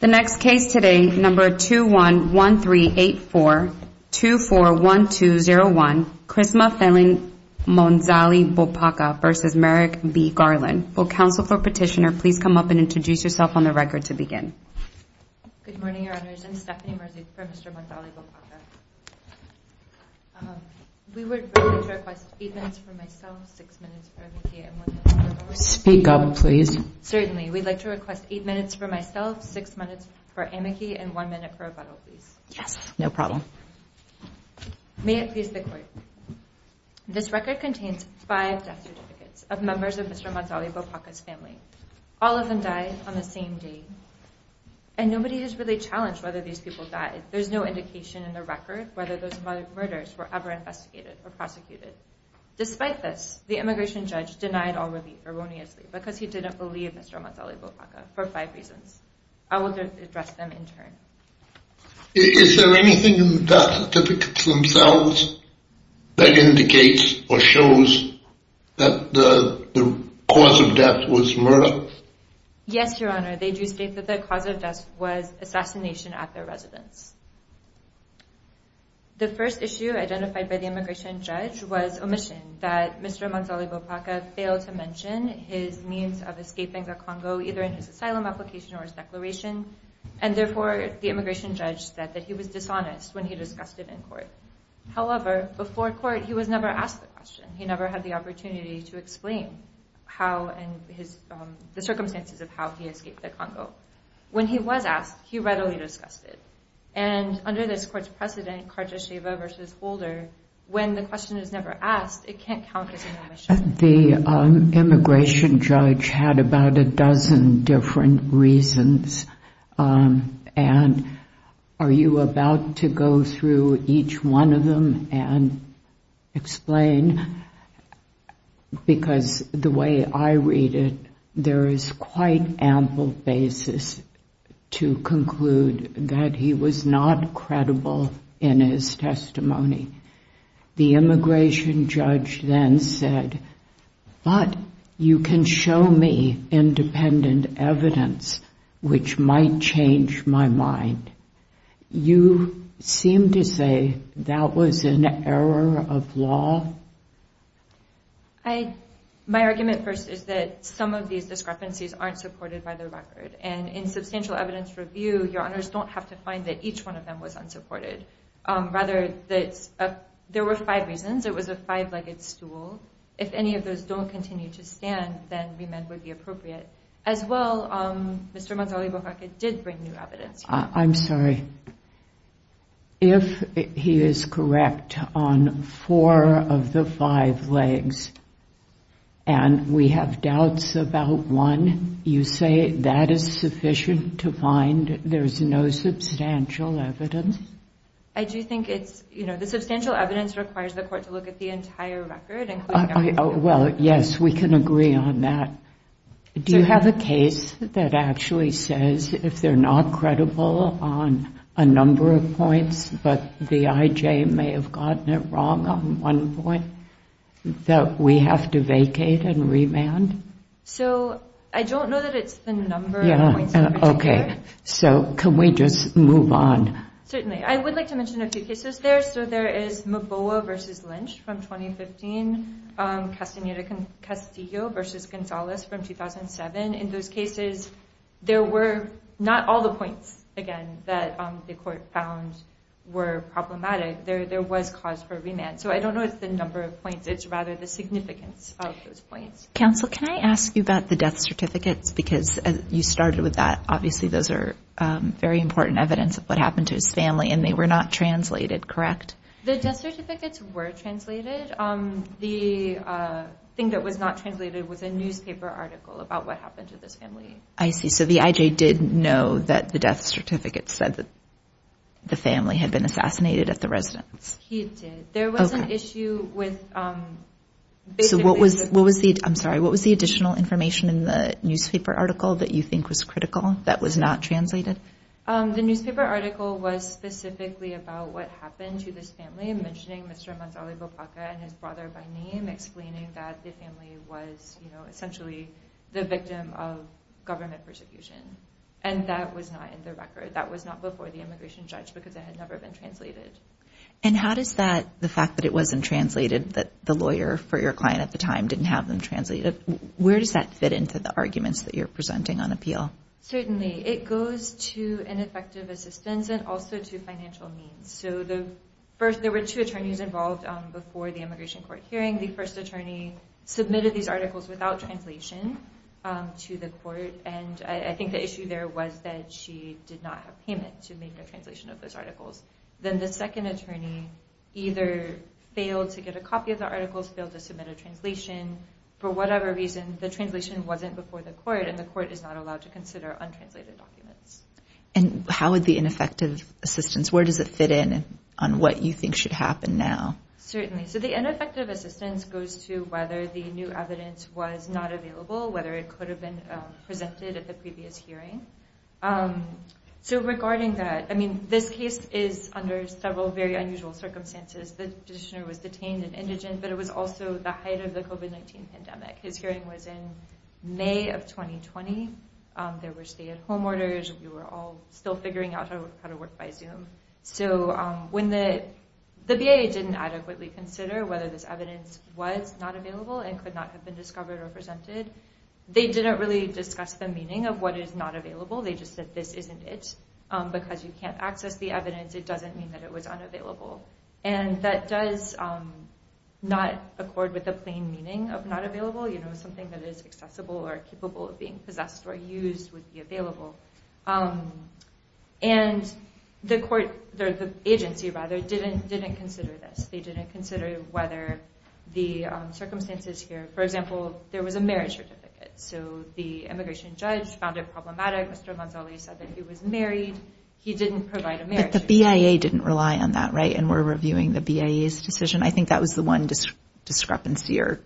The next case today, number 211384241201, Krisma Phelan Monzali Bopaka v. Merrick B. Garland. Will counsel for petitioner please come up and introduce yourself on the record to begin. Good morning, Your Honors. I'm Stephanie Merzi for Mr. Monzali Bopaka. We would like to request eight minutes for myself, six minutes for MBTA, and one minute for the board. Speak up, please. Certainly. We'd like to request eight minutes for myself, six minutes for AMICI, and one minute for rebuttal, please. Yes, no problem. May it please the Court. This record contains five death certificates of members of Mr. Monzali Bopaka's family. All of them died on the same day, and nobody has really challenged whether these people died. There's no indication in the record whether those murders were ever investigated or prosecuted. Despite this, the immigration judge denied all relief erroneously because he didn't believe Mr. Monzali Bopaka for five reasons. I will address them in turn. Is there anything in the death certificates themselves that indicates or shows that the cause of death was murder? Yes, Your Honor. They do state that the cause of death was assassination at their residence. The first issue identified by the immigration judge was omission, that Mr. Monzali Bopaka failed to mention his means of escaping the Congo either in his asylum application or his declaration, and therefore the immigration judge said that he was dishonest when he discussed it in court. However, before court, he was never asked the question. He never had the opportunity to explain the circumstances of how he escaped the Congo. When he was asked, he readily discussed it. And under this court's precedent, Cartes-Chevaux v. Holder, when the question is never asked, it can't count as an omission. The immigration judge had about a dozen different reasons, and are you about to go through each one of them and explain? Because the way I read it, there is quite ample basis to conclude that he was not credible in his testimony. The immigration judge then said, but you can show me independent evidence which might change my mind. You seem to say that was an error of law? My argument first is that some of these discrepancies aren't supported by the record. And in substantial evidence review, your honors don't have to find that each one of them was unsupported. Rather, there were five reasons. It was a five-legged stool. If any of those don't continue to stand, then remand would be appropriate. As well, Mr. Mazzoli-Bocacca did bring new evidence. I'm sorry. If he is correct on four of the five legs, and we have doubts about one, you say that is sufficient to find there's no substantial evidence? I do think it's, you know, the substantial evidence requires the court to look at the entire record. Well, yes, we can agree on that. Do you have a case that actually says if they're not credible on a number of points, but the IJ may have gotten it wrong on one point, that we have to vacate and remand? So, I don't know that it's the number of points in particular. So, can we just move on? Certainly. I would like to mention a few cases there. So, there is Mbowa v. Lynch from 2015, Castillo v. Gonzalez from 2007. In those cases, there were not all the points, again, that the court found were problematic. There was cause for remand. So, I don't know if it's the number of points. It's rather the significance of those points. Counsel, can I ask you about the death certificates? Because you started with that. Obviously, those are very important evidence of what happened to his family, and they were not translated, correct? The death certificates were translated. The thing that was not translated was a newspaper article about what happened to this family. I see. So, the IJ did know that the death certificate said that the family had been assassinated at the residence. He did. There was an issue with basically- I'm sorry. What was the additional information in the newspaper article that you think was critical that was not translated? The newspaper article was specifically about what happened to this family, mentioning Mr. Gonzalez-Bopaca and his brother by name, explaining that the family was essentially the victim of government persecution. And that was not in the record. That was not before the immigration judge because it had never been translated. And how does that, the fact that it wasn't translated, that the lawyer for your client at the time didn't have them translated, where does that fit into the arguments that you're presenting on appeal? Certainly. It goes to ineffective assistance and also to financial means. So, first, there were two attorneys involved before the immigration court hearing. The first attorney submitted these articles without translation to the court, and I think the issue there was that she did not have payment to make a translation of those articles. Then the second attorney either failed to get a copy of the articles, failed to submit a translation. For whatever reason, the translation wasn't before the court, and the court is not allowed to consider untranslated documents. And how would the ineffective assistance, where does it fit in on what you think should happen now? Certainly. So the ineffective assistance goes to whether the new evidence was not available, whether it could have been presented at the previous hearing. So regarding that, I mean, this case is under several very unusual circumstances. The petitioner was detained and indigent, but it was also the height of the COVID-19 pandemic. His hearing was in May of 2020. There were stay-at-home orders. We were all still figuring out how to work by Zoom. So when the BIA didn't adequately consider whether this evidence was not available and could not have been discovered or presented, they didn't really discuss the meaning of what is not available. They just said this isn't it. Because you can't access the evidence, it doesn't mean that it was unavailable. And that does not accord with the plain meaning of not available. You know, something that is accessible or capable of being possessed or used would be available. And the agency didn't consider this. They didn't consider whether the circumstances here. For example, there was a marriage certificate. So the immigration judge found it problematic. Mr. Amanzali said that he was married. He didn't provide a marriage certificate. But the BIA didn't rely on that, right, and were reviewing the BIA's decision? I think that was the one discrepancy or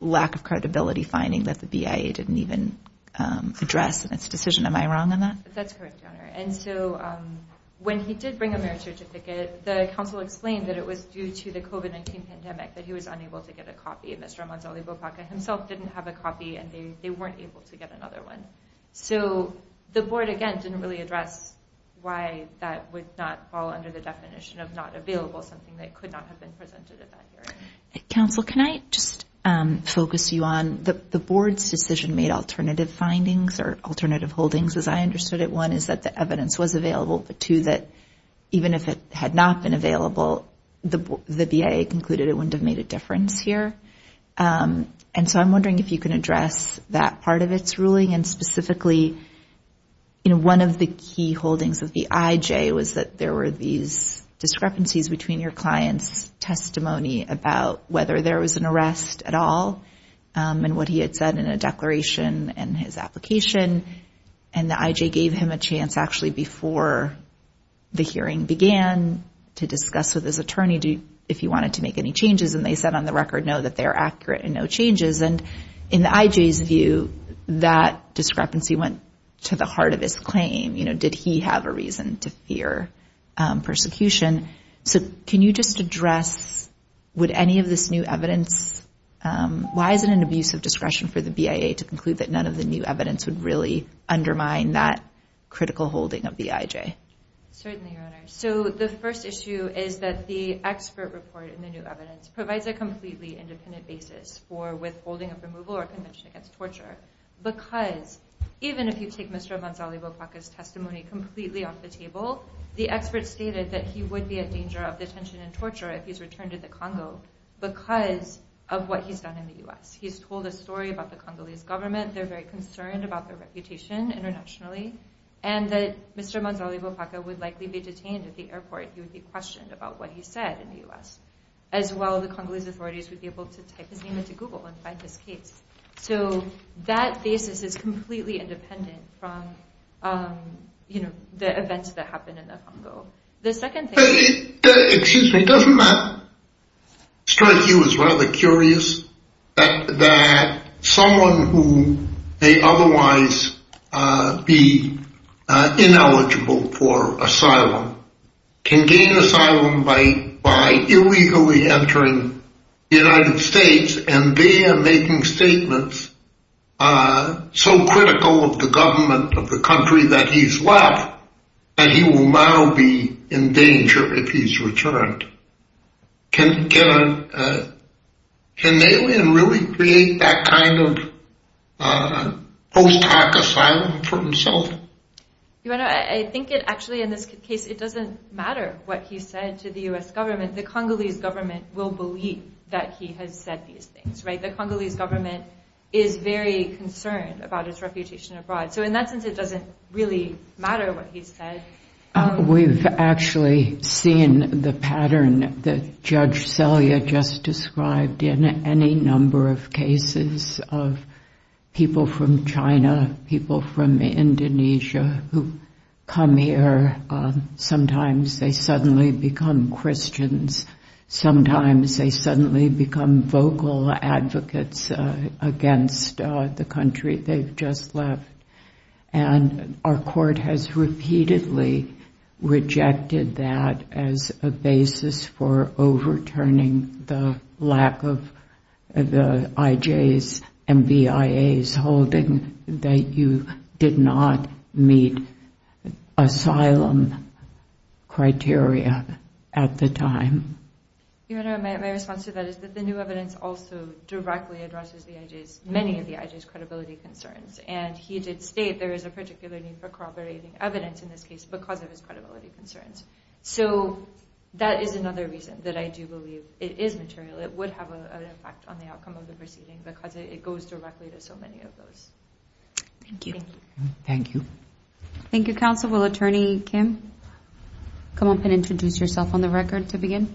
lack of credibility finding that the BIA didn't even address its decision. Am I wrong on that? That's correct, Your Honor. And so when he did bring a marriage certificate, the counsel explained that it was due to the COVID-19 pandemic that he was unable to get a copy. Mr. Amanzali Bopaka himself didn't have a copy, and they weren't able to get another one. So the board, again, didn't really address why that would not fall under the definition of not available, something that could not have been presented at that hearing. Counsel, can I just focus you on the board's decision made alternative findings or alternative holdings, as I understood it? One is that the evidence was available, but two, that even if it had not been available, the BIA concluded it wouldn't have made a difference here. And so I'm wondering if you can address that part of its ruling, and specifically one of the key holdings of the IJ was that there were these discrepancies between your client's testimony about whether there was an arrest at all and what he had said in a declaration and his application, and the IJ gave him a chance actually before the hearing began to discuss with his attorney if he wanted to make any changes, and they said on the record, no, that they are accurate and no changes. And in the IJ's view, that discrepancy went to the heart of his claim. Did he have a reason to fear persecution? So can you just address would any of this new evidence – why is it an abuse of discretion for the BIA to conclude that none of the new evidence would really undermine that critical holding of the IJ? Certainly, Your Honor. So the first issue is that the expert report in the new evidence provides a completely independent basis for withholding of removal or convention against torture because even if you take Mr. Manzali Bopaka's testimony completely off the table, the expert stated that he would be in danger of detention and torture if he's returned to the Congo because of what he's done in the U.S. He's told a story about the Congolese government. They're very concerned about their reputation internationally, and that Mr. Manzali Bopaka would likely be detained at the airport. He would be questioned about what he said in the U.S. As well, the Congolese authorities would be able to type his name into Google and find his case. So that basis is completely independent from, you know, the events that happened in the Congo. Excuse me, doesn't that strike you as rather curious that someone who may otherwise be ineligible for asylum can gain asylum by illegally entering the United States, and they are making statements so critical of the government of the country that he's left and he will now be in danger if he's returned. Can an alien really create that kind of post-hoc asylum for himself? I think it actually, in this case, it doesn't matter what he said to the U.S. government. The Congolese government will believe that he has said these things, right? The Congolese government is very concerned about its reputation abroad. So in that sense, it doesn't really matter what he said. We've actually seen the pattern that Judge Selye just described in any number of cases of people from China, people from Indonesia who come here. Sometimes they suddenly become Christians. Sometimes they suddenly become vocal advocates against the country they've just left. And our court has repeatedly rejected that as a basis for overturning the lack of the IJs and BIAs, withholding that you did not meet asylum criteria at the time. Your Honor, my response to that is that the new evidence also directly addresses many of the IJs' credibility concerns. And he did state there is a particular need for corroborating evidence in this case because of his credibility concerns. So that is another reason that I do believe it is material. It would have an impact on the outcome of the proceeding because it goes directly to so many of those. Thank you. Thank you. Thank you, Counsel. Will Attorney Kim come up and introduce yourself on the record to begin?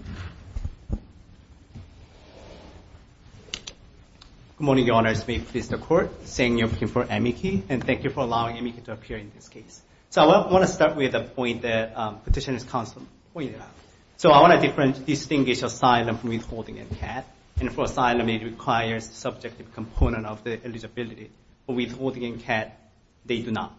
Good morning, Your Honors. May it please the Court. Thank you for allowing me to appear in this case. So I want to start with a point that Petitioner's Counsel pointed out. So I want to distinguish asylum from withholding a CAD. And for asylum it requires a subjective component of the eligibility. For withholding a CAD, they do not.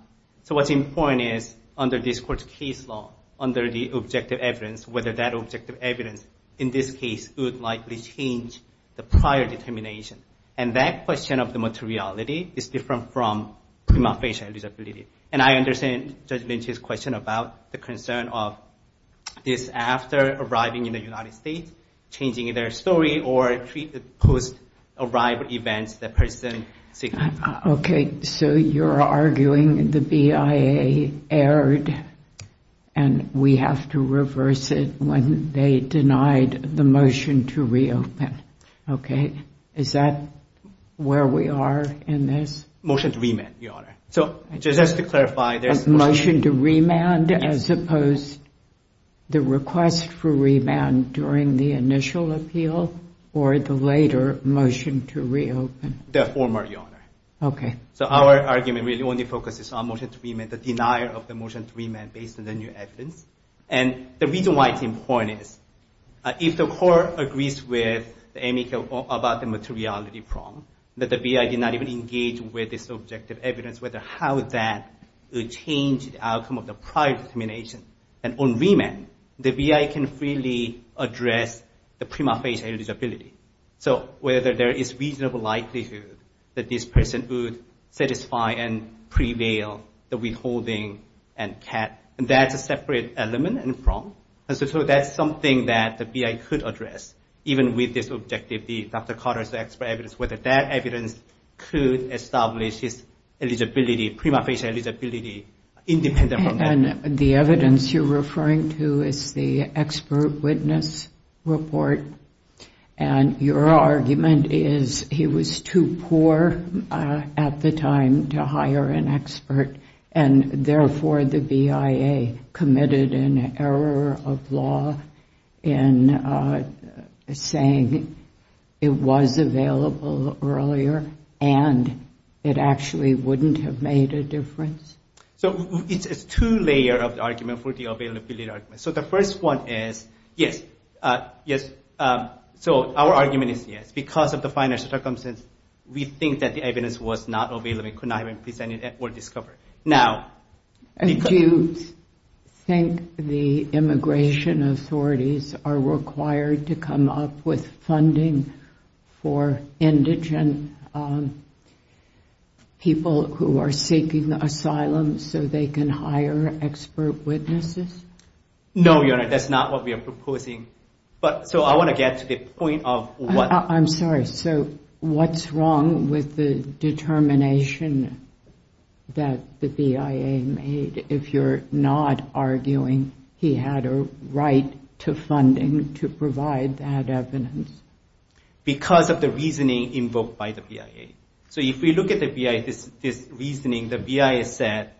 So what's important is under this Court's case law, under the objective evidence, whether that objective evidence in this case would likely change the prior determination. And that question of the materiality is different from prima facie eligibility. And I understand Judge Lynch's question about the concern of this after arriving in the United States, changing their story or post-arrival events, the person seeking asylum. Okay. So you're arguing the BIA erred and we have to reverse it when they denied the motion to reopen. Okay. Is that where we are in this? Motion to remand, Your Honor. So just to clarify, there's a motion to remand as opposed to the request for remand during the initial appeal or the later motion to reopen? The former, Your Honor. Okay. So our argument really only focuses on motion to remand, the denial of the motion to remand based on the new evidence. And the reason why it's important is if the Court agrees with Amy about the materiality problem, that the BIA did not even engage with this objective evidence, whether how that would change the outcome of the prior determination. And on remand, the BIA can freely address the prima facie eligibility. So whether there is reasonable likelihood that this person would satisfy and prevail the withholding and CAT. And that's a separate element and from. So that's something that the BIA could address, even with this objective, the Dr. Carter's expert evidence, whether that evidence could establish his eligibility, prima facie eligibility, independent from that. And the evidence you're referring to is the expert witness report. And your argument is he was too poor at the time to hire an expert, and therefore the BIA committed an error of law in saying it was available earlier, and it actually wouldn't have made a difference? So it's two layers of the argument for the availability argument. So the first one is yes, yes. So our argument is yes. Because of the financial circumstances, we think that the evidence was not available. It could not have been presented or discovered. Do you think the immigration authorities are required to come up with funding for indigent people who are seeking asylum so they can hire expert witnesses? No, Your Honor, that's not what we are proposing. So I want to get to the point of what... I'm sorry. So what's wrong with the determination that the BIA made, if you're not arguing he had a right to funding to provide that evidence? Because of the reasoning invoked by the BIA. So if we look at this reasoning, the BIA said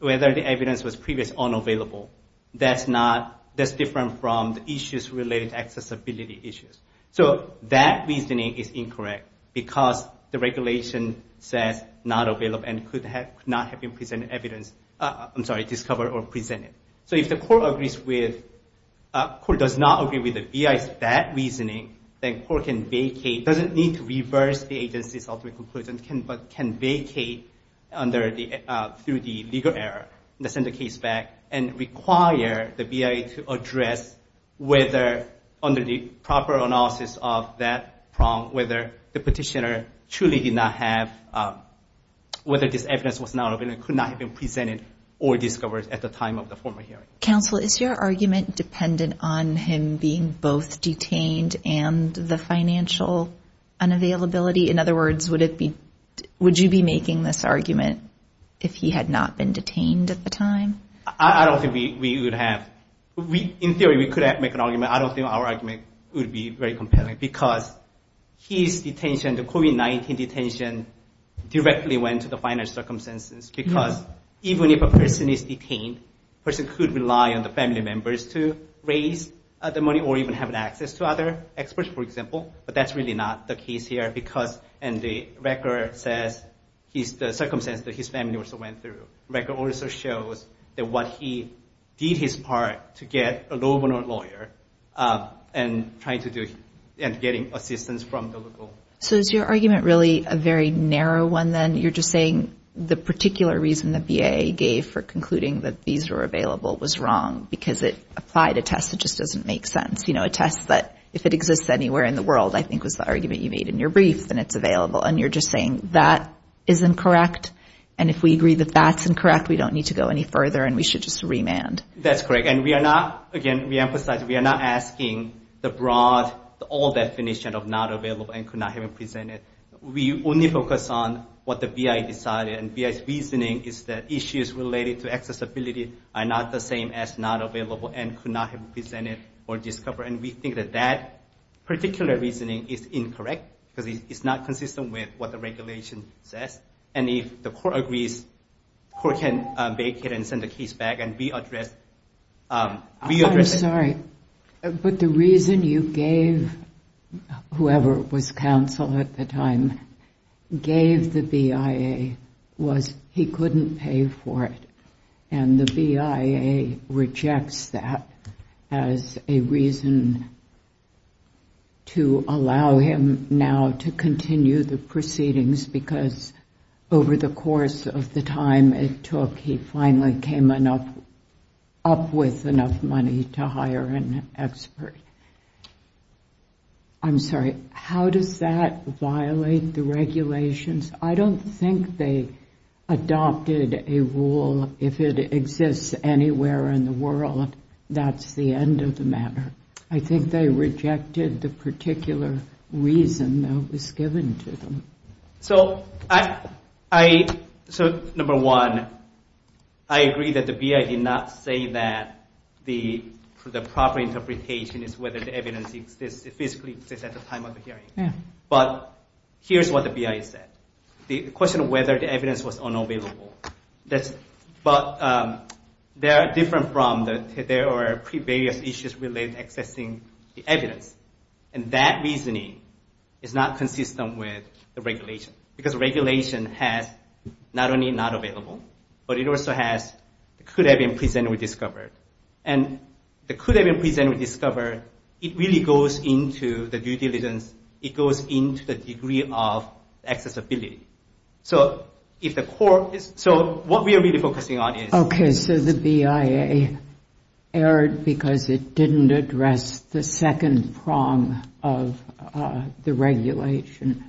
whether the evidence was previously unavailable. That's different from the issues related to accessibility issues. So that reasoning is incorrect because the regulation says not available and could not have been discovered or presented. So if the court does not agree with the BIA's bad reasoning, the court can vacate, doesn't need to reverse the agency's ultimate conclusion, but can vacate through the legal error, and send the case back and require the BIA to address whether, under the proper analysis of that problem, whether the petitioner truly did not have, whether this evidence was not available and could not have been presented or discovered at the time of the former hearing. Counsel, is your argument dependent on him being both detained and the financial unavailability? In other words, would you be making this argument if he had not been detained at the time? I don't think we would have. In theory, we could make an argument. I don't think our argument would be very compelling because his detention, the COVID-19 detention, directly went to the financial circumstances. Because even if a person is detained, a person could rely on the family members to raise the money or even have access to other experts, for example. But that's really not the case here because, and the record says, the circumstances that his family also went through. The record also shows that what he did his part to get a lawyer and trying to do, and getting assistance from the local. So is your argument really a very narrow one, then? You're just saying the particular reason the BIA gave for concluding that these were available was wrong because it applied a test that just doesn't make sense. You know, a test that, if it exists anywhere in the world, I think was the argument you made in your brief, then it's available. And you're just saying that is incorrect. And if we agree that that's incorrect, we don't need to go any further and we should just remand. That's correct. And we are not, again, we emphasize we are not asking the broad, all definition of not available and could not have been presented. We only focus on what the BIA decided. And BIA's reasoning is that issues related to accessibility are not the same as not available and could not have been presented or discovered. And we think that that particular reasoning is incorrect because it's not consistent with what the regulation says. And if the court agrees, the court can vacate and send the case back and readdress it. I'm sorry, but the reason you gave whoever was counsel at the time, gave the BIA, was he couldn't pay for it. And the BIA rejects that as a reason to allow him now to continue the proceedings because over the course of the time it took, he finally came up with enough money to hire an expert. I'm sorry, how does that violate the regulations? I don't think they adopted a rule, if it exists anywhere in the world, that's the end of the matter. I think they rejected the particular reason that was given to them. So, number one, I agree that the BIA did not say that the proper interpretation is whether the evidence physically exists at the time of the hearing. But here's what the BIA said. The question of whether the evidence was unavailable. But they are different from, there are various issues related to accessing the evidence. And that reasoning is not consistent with the regulation. Because the regulation has not only not available, but it also has, it could have been presented or discovered. And it could have been presented or discovered, it really goes into the due diligence, it goes into the degree of accessibility. So, what we are really focusing on is... Okay, so the BIA erred because it didn't address the second prong of the regulation.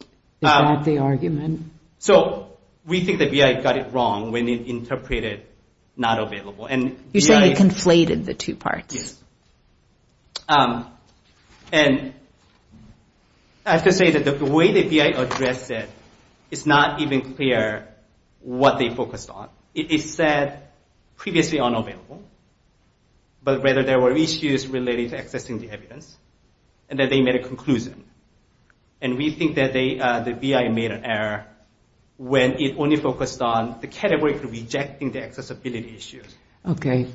Is that the argument? So, we think the BIA got it wrong when it interpreted not available. You're saying it conflated the two parts. And I have to say that the way the BIA addressed it, it's not even clear what they focused on. It said previously unavailable, but whether there were issues related to accessing the evidence. And that they made a conclusion. And we think that the BIA made an error when it only focused on the category for rejecting the accessibility issues. Okay,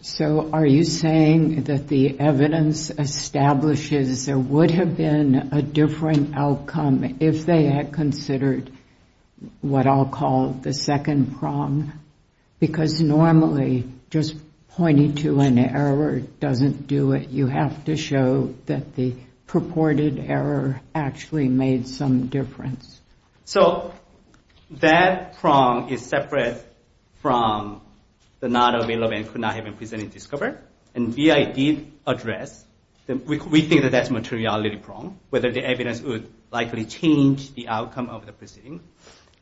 so are you saying that the evidence establishes there would have been a different outcome if they had considered what I'll call the second prong? Because normally, just pointing to an error doesn't do it. You have to show that the purported error actually made some difference. So, that prong is separate from the not available and could not have been presented and discovered. And BIA did address, we think that that's a materiality prong, whether the evidence would likely change the outcome of the proceeding.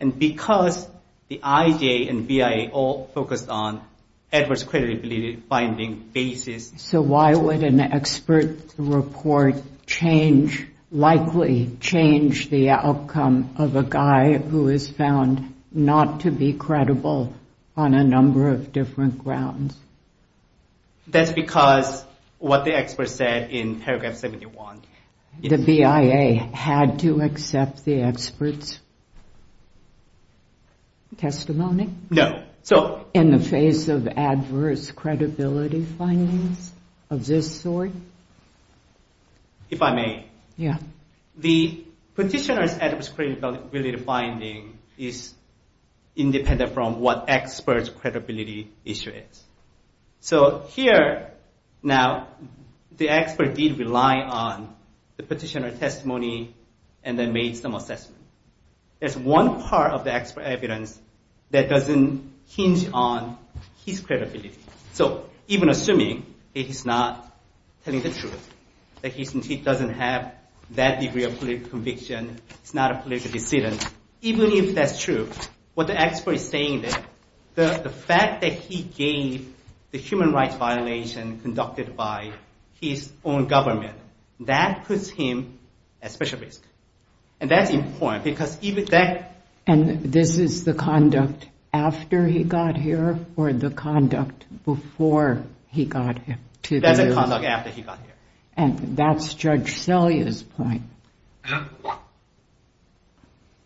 And because the IJ and BIA all focused on adverse credibility finding basis... So, why would an expert report likely change the outcome of a guy who is found not to be credible on a number of different grounds? That's because what the expert said in paragraph 71. The BIA had to accept the expert's testimony? No. In the face of adverse credibility findings of this sort? If I may. Yeah. The petitioner's adverse credibility finding is independent from what expert's credibility issue is. So, here, now, the expert did rely on the petitioner's testimony and then made some assessment. There's one part of the expert evidence that doesn't hinge on his credibility. So, even assuming that he's not telling the truth, that he doesn't have that degree of political conviction, he's not a political dissident, even if that's true, what the expert is saying is that the fact that he gave the human rights violation conducted by his own government, that puts him at special risk. And that's important, because even that... And this is the conduct after he got here, or the conduct before he got here? That's the conduct after he got here. And that's Judge Selye's point.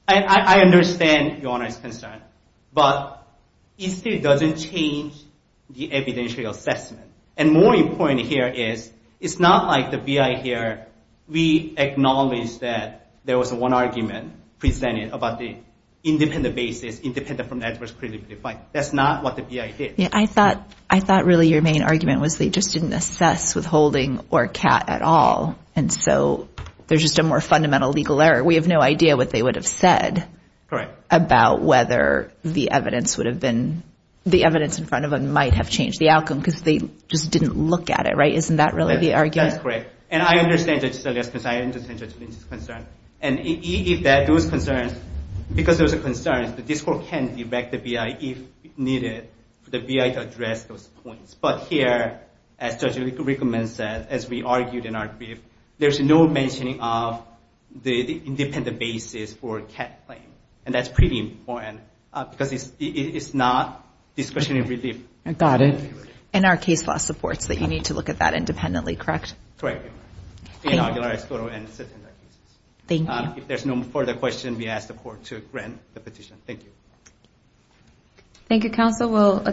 I understand Your Honor's concern, but it still doesn't change the evidentiary assessment. And more important here is, it's not like the BI here, we acknowledge that there was one argument presented about the independent basis, independent from adverse credibility. That's not what the BI did. I thought really your main argument was they just didn't assess withholding or CAT at all, and so there's just a more fundamental legal error. We have no idea what they would have said about whether the evidence would have been... The evidence in front of them might have changed the outcome, because they just didn't look at it, right? Isn't that really the argument? That's correct. And I understand Judge Selye's concern. I understand Judge Lynch's concern. And those concerns, because those are concerns, the district can direct the BI if needed, for the BI to address those points. But here, as Judge Rickman said, as we argued in our brief, there's no mentioning of the independent basis for a CAT claim. And that's pretty important, because it's not discretionary relief. And our case law supports that you need to look at that independently, correct? Correct. Thank you. If there's no further questions, we ask the Court to grant the petition. Thank you. Thank you, Counsel. Will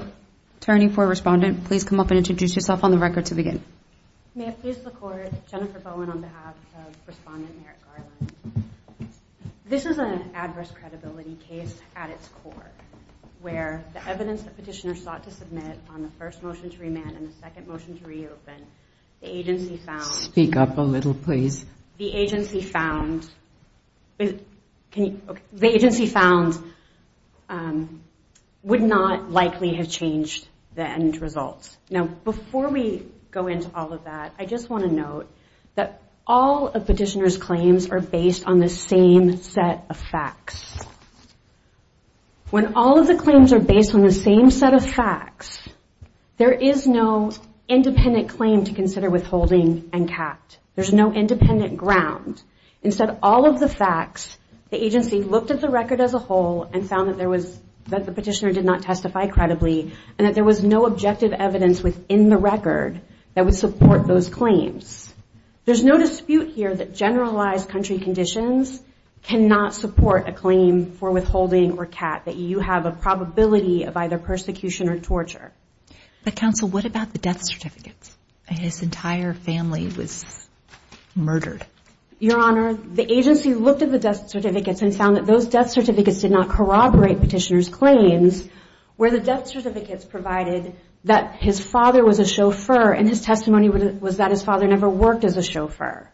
Attorney for Respondent please come up and introduce yourself on the record to begin? May it please the Court, Jennifer Bowen on behalf of Respondent Merrick Garland. This is an adverse credibility case at its core, where the evidence that petitioners sought to submit on the first motion to remand and the second motion to reopen, the agency found... Speak up a little, please. The agency found... The agency found... would not likely have changed the end results. Now, before we go into all of that, I just want to note that all of petitioners' claims are based on the same set of facts. When all of the claims are based on the same set of facts, there is no independent claim to consider withholding and CAT. There's no independent ground. Instead, all of the facts, the agency looked at the record as a whole and found that the petitioner did not testify credibly and that there was no objective evidence within the record that would support those claims. There's no dispute here that generalized country conditions cannot support a claim for withholding or CAT, that you have a probability of either persecution or torture. But, counsel, what about the death certificates? His entire family was murdered. Your Honor, the agency looked at the death certificates and found that those death certificates did not corroborate petitioners' claims, where the death certificates provided that his father was a chauffeur and his testimony was that his father never worked as a chauffeur.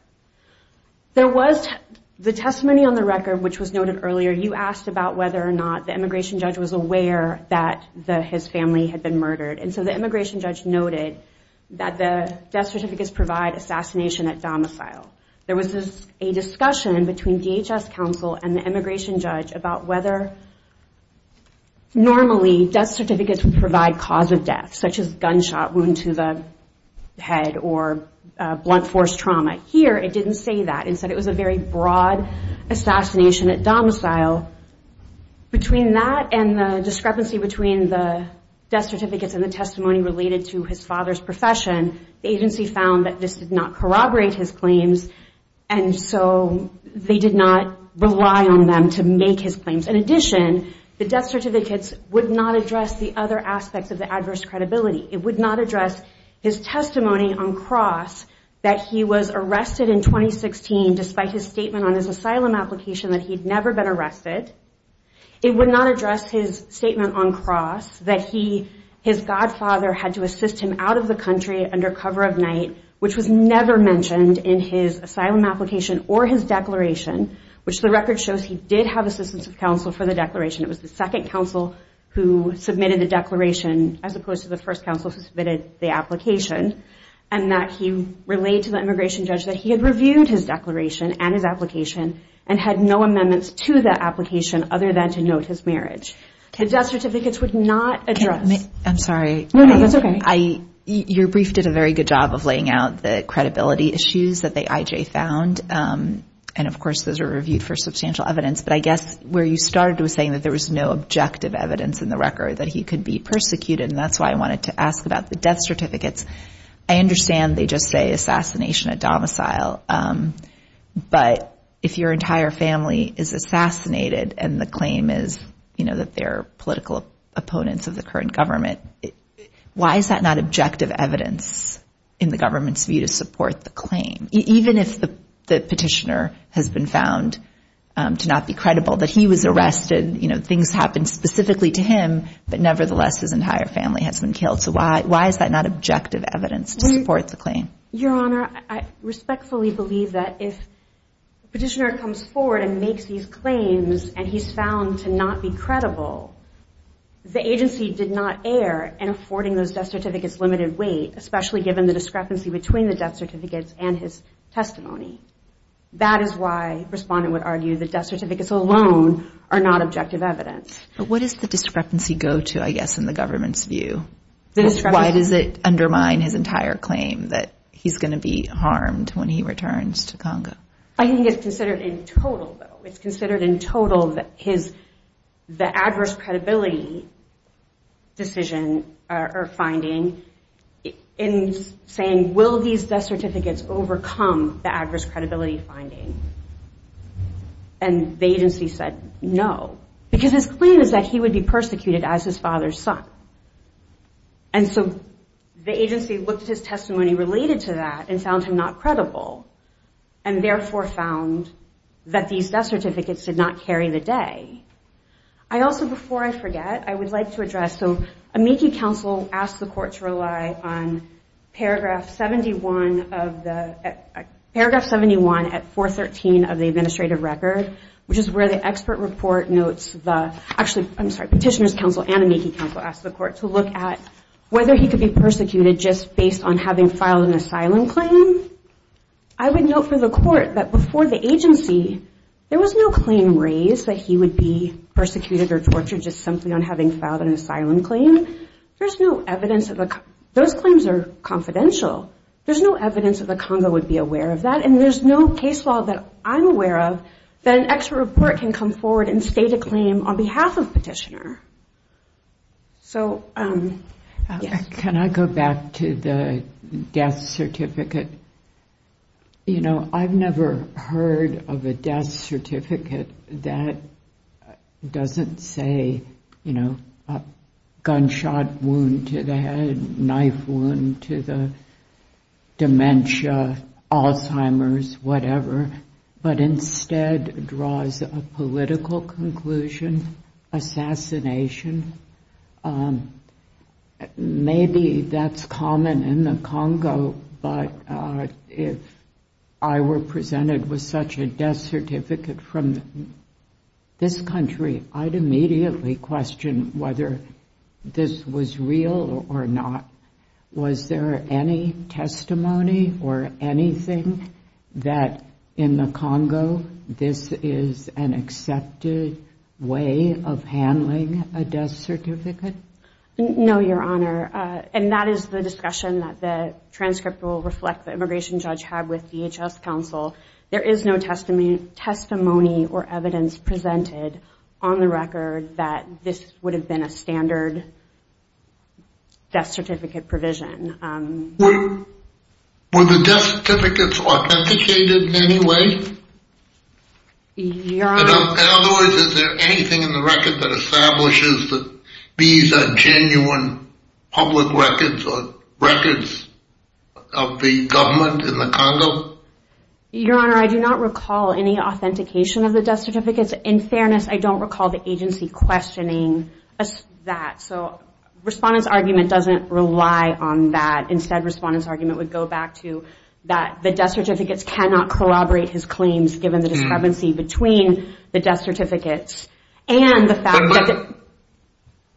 The testimony on the record, which was noted earlier, you asked about whether or not the immigration judge was aware that his family had been murdered, and so the immigration judge noted that the death certificates provide assassination at domicile. There was a discussion between DHS counsel and the immigration judge about whether normally death certificates would provide cause of death, such as gunshot wound to the head or blunt force trauma. Here, it didn't say that. It said it was a very broad assassination at domicile. Between that and the discrepancy between the death certificates and the testimony related to his father's profession, the agency found that this did not corroborate his claims, and so they did not rely on them to make his claims. In addition, the death certificates would not address the other aspects of the adverse credibility. It would not address his testimony on cross that he was arrested in 2016 despite his statement on his asylum application that he'd never been arrested. It would not address his statement on cross that his godfather had to assist him out of the country under cover of night, which was never mentioned in his asylum application or his declaration, which the record shows he did have assistance of counsel for the declaration. It was the second counsel who submitted the declaration as opposed to the first counsel who submitted the application, and that he relayed to the immigration judge that he had reviewed his declaration and his application and had no amendments to that application other than to note his marriage. The death certificates would not address. I'm sorry. No, that's okay. Your brief did a very good job of laying out the credibility issues that the IJ found, and of course those are reviewed for substantial evidence, but I guess where you started was saying that there was no objective evidence in the record that he could be persecuted, and that's why I wanted to ask about the death certificates. I understand they just say assassination, a domicile, but if your entire family is assassinated and the claim is, you know, that they're political opponents of the current government, why is that not objective evidence in the government's view to support the claim? Even if the petitioner has been found to not be credible, that he was arrested, you know, things happened specifically to him, but nevertheless his entire family has been killed, so why is that not objective evidence to support the claim? Your Honor, I respectfully believe that if the petitioner comes forward and makes these claims and he's found to not be credible, the agency did not err in affording those death certificates limited weight, especially given the discrepancy between the death certificates and his testimony. That is why a respondent would argue the death certificates alone are not objective evidence. But what does the discrepancy go to, I guess, in the government's view? Why does it undermine his entire claim that he's going to be harmed when he returns to Congo? I think it's considered in total, though. It's considered in total that the adverse credibility decision or finding, in saying, will these death certificates overcome the adverse credibility finding? And the agency said no, because his claim is that he would be persecuted as his father's son. And so the agency looked at his testimony related to that and found him not credible, and therefore found that these death certificates did not carry the day. I also, before I forget, I would like to address, so, amici counsel asked the court to rely on paragraph 71 of the, paragraph 71 at 413 of the administrative record, which is where the expert report notes the, actually, I'm sorry, petitioner's counsel and amici counsel asked the court to look at whether he could be persecuted just based on having filed an asylum claim. I would note for the court that before the agency, there was no claim raised that he would be persecuted or tortured just simply on having filed an asylum claim. There's no evidence of a, those claims are confidential. There's no evidence that the Congo would be aware of that, and there's no case law that I'm aware of that an expert report can come forward and state a claim on behalf of petitioner. So, yes. Can I go back to the death certificate? You know, I've never heard of a death certificate that doesn't say, you know, a gunshot wound to the head, knife wound to the dementia, Alzheimer's, whatever, but instead draws a political conclusion, assassination. Maybe that's common in the Congo, but if I were presented with such a death certificate from this country, I'd immediately question whether this was real or not. Was there any testimony or anything that in the Congo, this is an accepted way of handling a death certificate? No, Your Honor. And that is the discussion that the transcript will reflect the immigration judge had with DHS counsel. There is no testimony or evidence presented on the record that this would have been a standard death certificate provision. Were the death certificates authenticated in any way? Your Honor. In other words, is there anything in the record that establishes that these are genuine public records or records of the government in the Congo? Your Honor, I do not recall any authentication of the death certificates. In fairness, I don't recall the agency questioning that. So respondent's argument doesn't rely on that. Instead, respondent's argument would go back to that the death certificates cannot corroborate his claims given the discrepancy between the death certificates and the fact that the-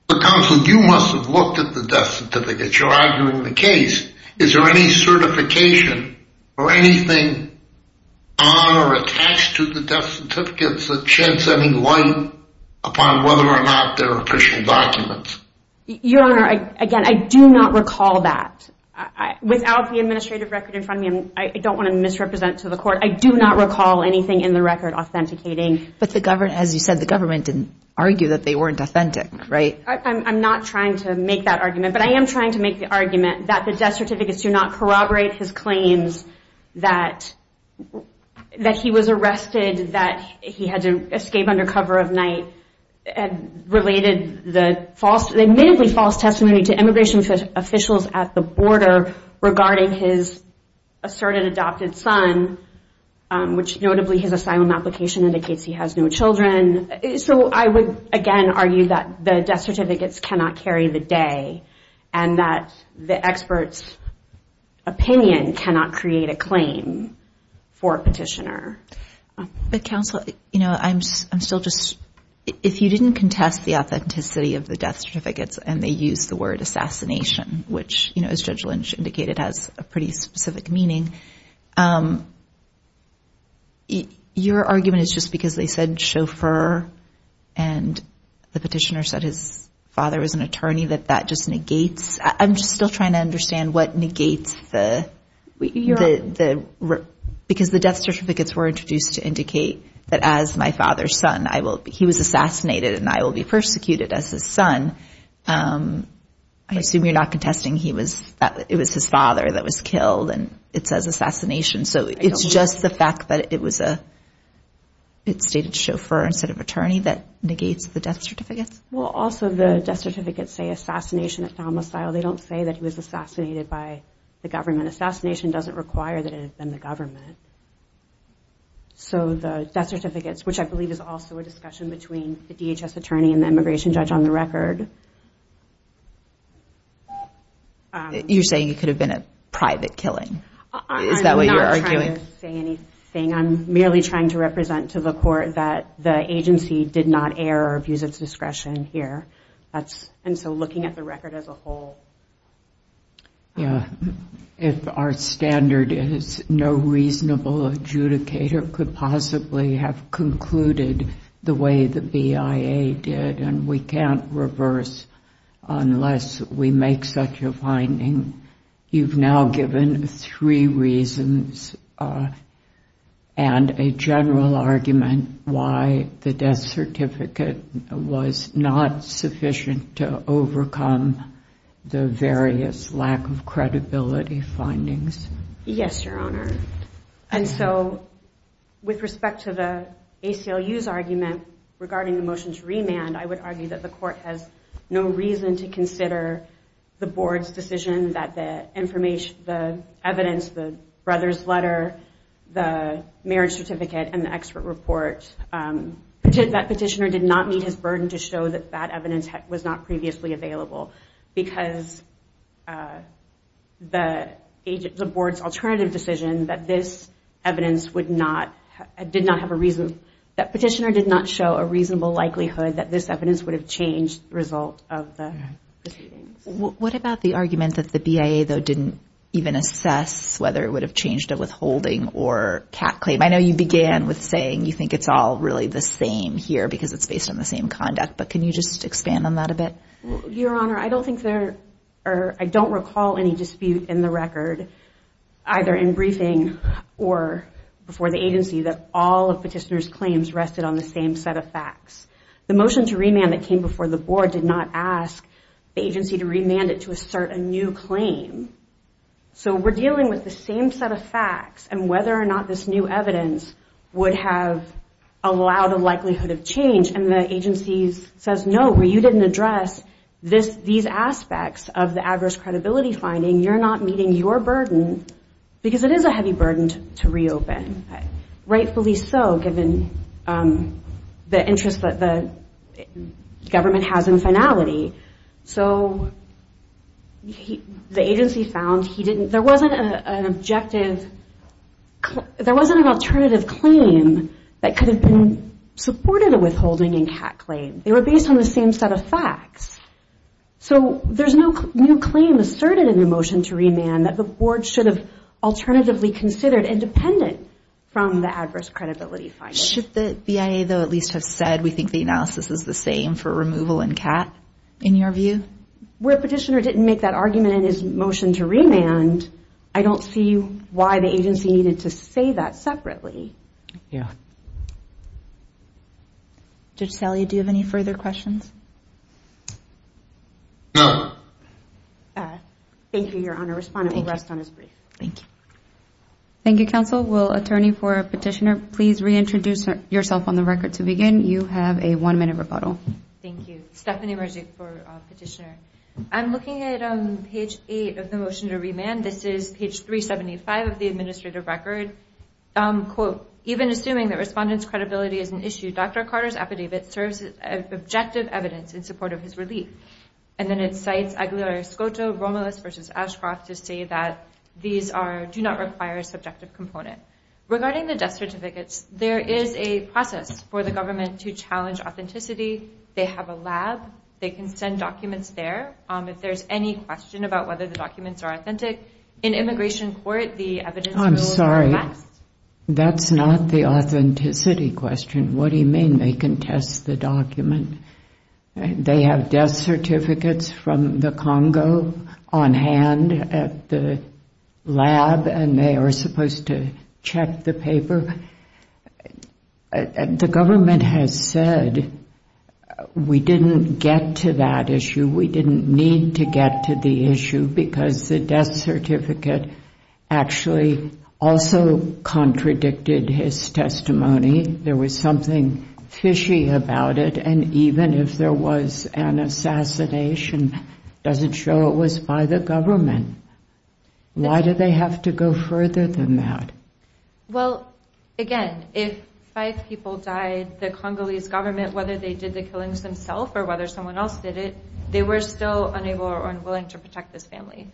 But counsel, you must have looked at the death certificates. You're arguing the case. Is there any certification or anything on or attached to the death certificates that sheds any light upon whether or not they're official documents? Your Honor, again, I do not recall that. Without the administrative record in front of me, I don't want to misrepresent to the court. I do not recall anything in the record authenticating. But, as you said, the government didn't argue that they weren't authentic, right? I'm not trying to make that argument. But I am trying to make the argument that the death certificates do not corroborate his claims that he was arrested, that he had to escape under cover of night, and related the admittedly false testimony to immigration officials at the border regarding his asserted adopted son, which notably his asylum application indicates he has no children. So I would, again, argue that the death certificates cannot carry the day and that the expert's opinion cannot create a claim for a petitioner. But, counsel, you know, I'm still just, if you didn't contest the authenticity of the death certificates and they used the word assassination, which, you know, as Judge Lynch indicated has a pretty specific meaning, your argument is just because they said chauffeur and the petitioner said his father was an attorney that that just negates, I'm just still trying to understand what negates the, because the death certificates were introduced to indicate that as my father's son, he was assassinated and I will be persecuted as his son. I assume you're not contesting it was his father that was killed and it says assassination. So it's just the fact that it was a stated chauffeur instead of attorney that negates the death certificates? Well, also the death certificates say assassination, they don't say that he was assassinated by the government. Assassination doesn't require that it had been the government. So the death certificates, which I believe is also a discussion between the DHS attorney and the immigration judge on the record. You're saying it could have been a private killing. Is that what you're arguing? I'm not trying to say anything. I'm merely trying to represent to the court that the agency did not err or abuse its discretion here. And so looking at the record as a whole. Yeah. If our standard is no reasonable adjudicator could possibly have concluded the way the BIA did and we can't reverse unless we make such a finding. You've now given three reasons and a general argument why the death certificate was not sufficient to overcome the various lack of credibility findings. Yes, Your Honor. And so with respect to the ACLU's argument regarding the motion to remand, I would argue that the court has no reason to consider the board's decision that the evidence, the brother's letter, the marriage certificate, and the expert report, that petitioner did not meet his burden to show that that evidence was not previously available because the board's alternative decision that this evidence did not have a reason, that this evidence would have changed the result of the proceedings. What about the argument that the BIA, though, didn't even assess whether it would have changed a withholding or CAT claim? I know you began with saying you think it's all really the same here because it's based on the same conduct, but can you just expand on that a bit? Your Honor, I don't think there are, I don't recall any dispute in the record, either in briefing or before the agency, that all of petitioner's claims rested on the same set of facts. The motion to remand that came before the board did not ask the agency to remand it to assert a new claim. So we're dealing with the same set of facts, and whether or not this new evidence would have allowed a likelihood of change, and the agency says, no, you didn't address these aspects of the adverse credibility finding. You're not meeting your burden because it is a heavy burden to reopen, rightfully so, given the interest that the government has in finality. So the agency found he didn't, there wasn't an objective, there wasn't an alternative claim that could have been supported a withholding and CAT claim. They were based on the same set of facts. So there's no new claim asserted in the motion to remand that the board should have alternatively considered and dependent from the adverse credibility finding. Should the BIA, though, at least have said we think the analysis is the same for removal and CAT, in your view? Where petitioner didn't make that argument in his motion to remand, I don't see why the agency needed to say that separately. Yeah. Judge Salia, do you have any further questions? No. Thank you, Your Honor. Respondent will rest on his brief. Thank you. Thank you, counsel. Will attorney for petitioner please reintroduce yourself on the record to begin? You have a one-minute rebuttal. Thank you. Stephanie Merzig for petitioner. I'm looking at page 8 of the motion to remand. This is page 375 of the administrative record. Even assuming that respondent's credibility is an issue, Dr. Carter's affidavit serves as objective evidence in support of his relief. And then it cites Aguilar-Escoto, Romulus v. Ashcroft to say that these do not require a subjective component. Regarding the death certificates, there is a process for the government to challenge authenticity. They have a lab. They can send documents there. If there's any question about whether the documents are authentic, in immigration court, the evidence will go back to them. I'm sorry. That's not the authenticity question. What do you mean they can test the document? They have death certificates from the Congo on hand at the lab, and they are supposed to check the paper. The government has said we didn't get to that issue, we didn't need to get to the issue, because the death certificate actually also contradicted his testimony. There was something fishy about it, and even if there was an assassination, it doesn't show it was by the government. Why do they have to go further than that? Well, again, if five people died, the Congolese government, whether they did the killings themselves or whether someone else did it, they were still unable or unwilling to protect this family.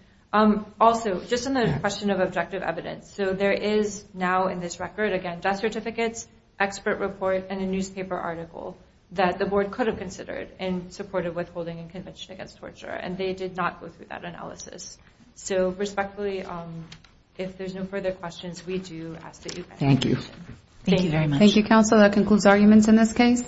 Also, just on the question of objective evidence, so there is now in this record, again, death certificates, expert report, and a newspaper article that the board could have considered in support of withholding a conviction against torture, and they did not go through that analysis. So respectfully, if there's no further questions, we do ask that you pass. Thank you. Thank you very much. Thank you, counsel. That concludes arguments in this case.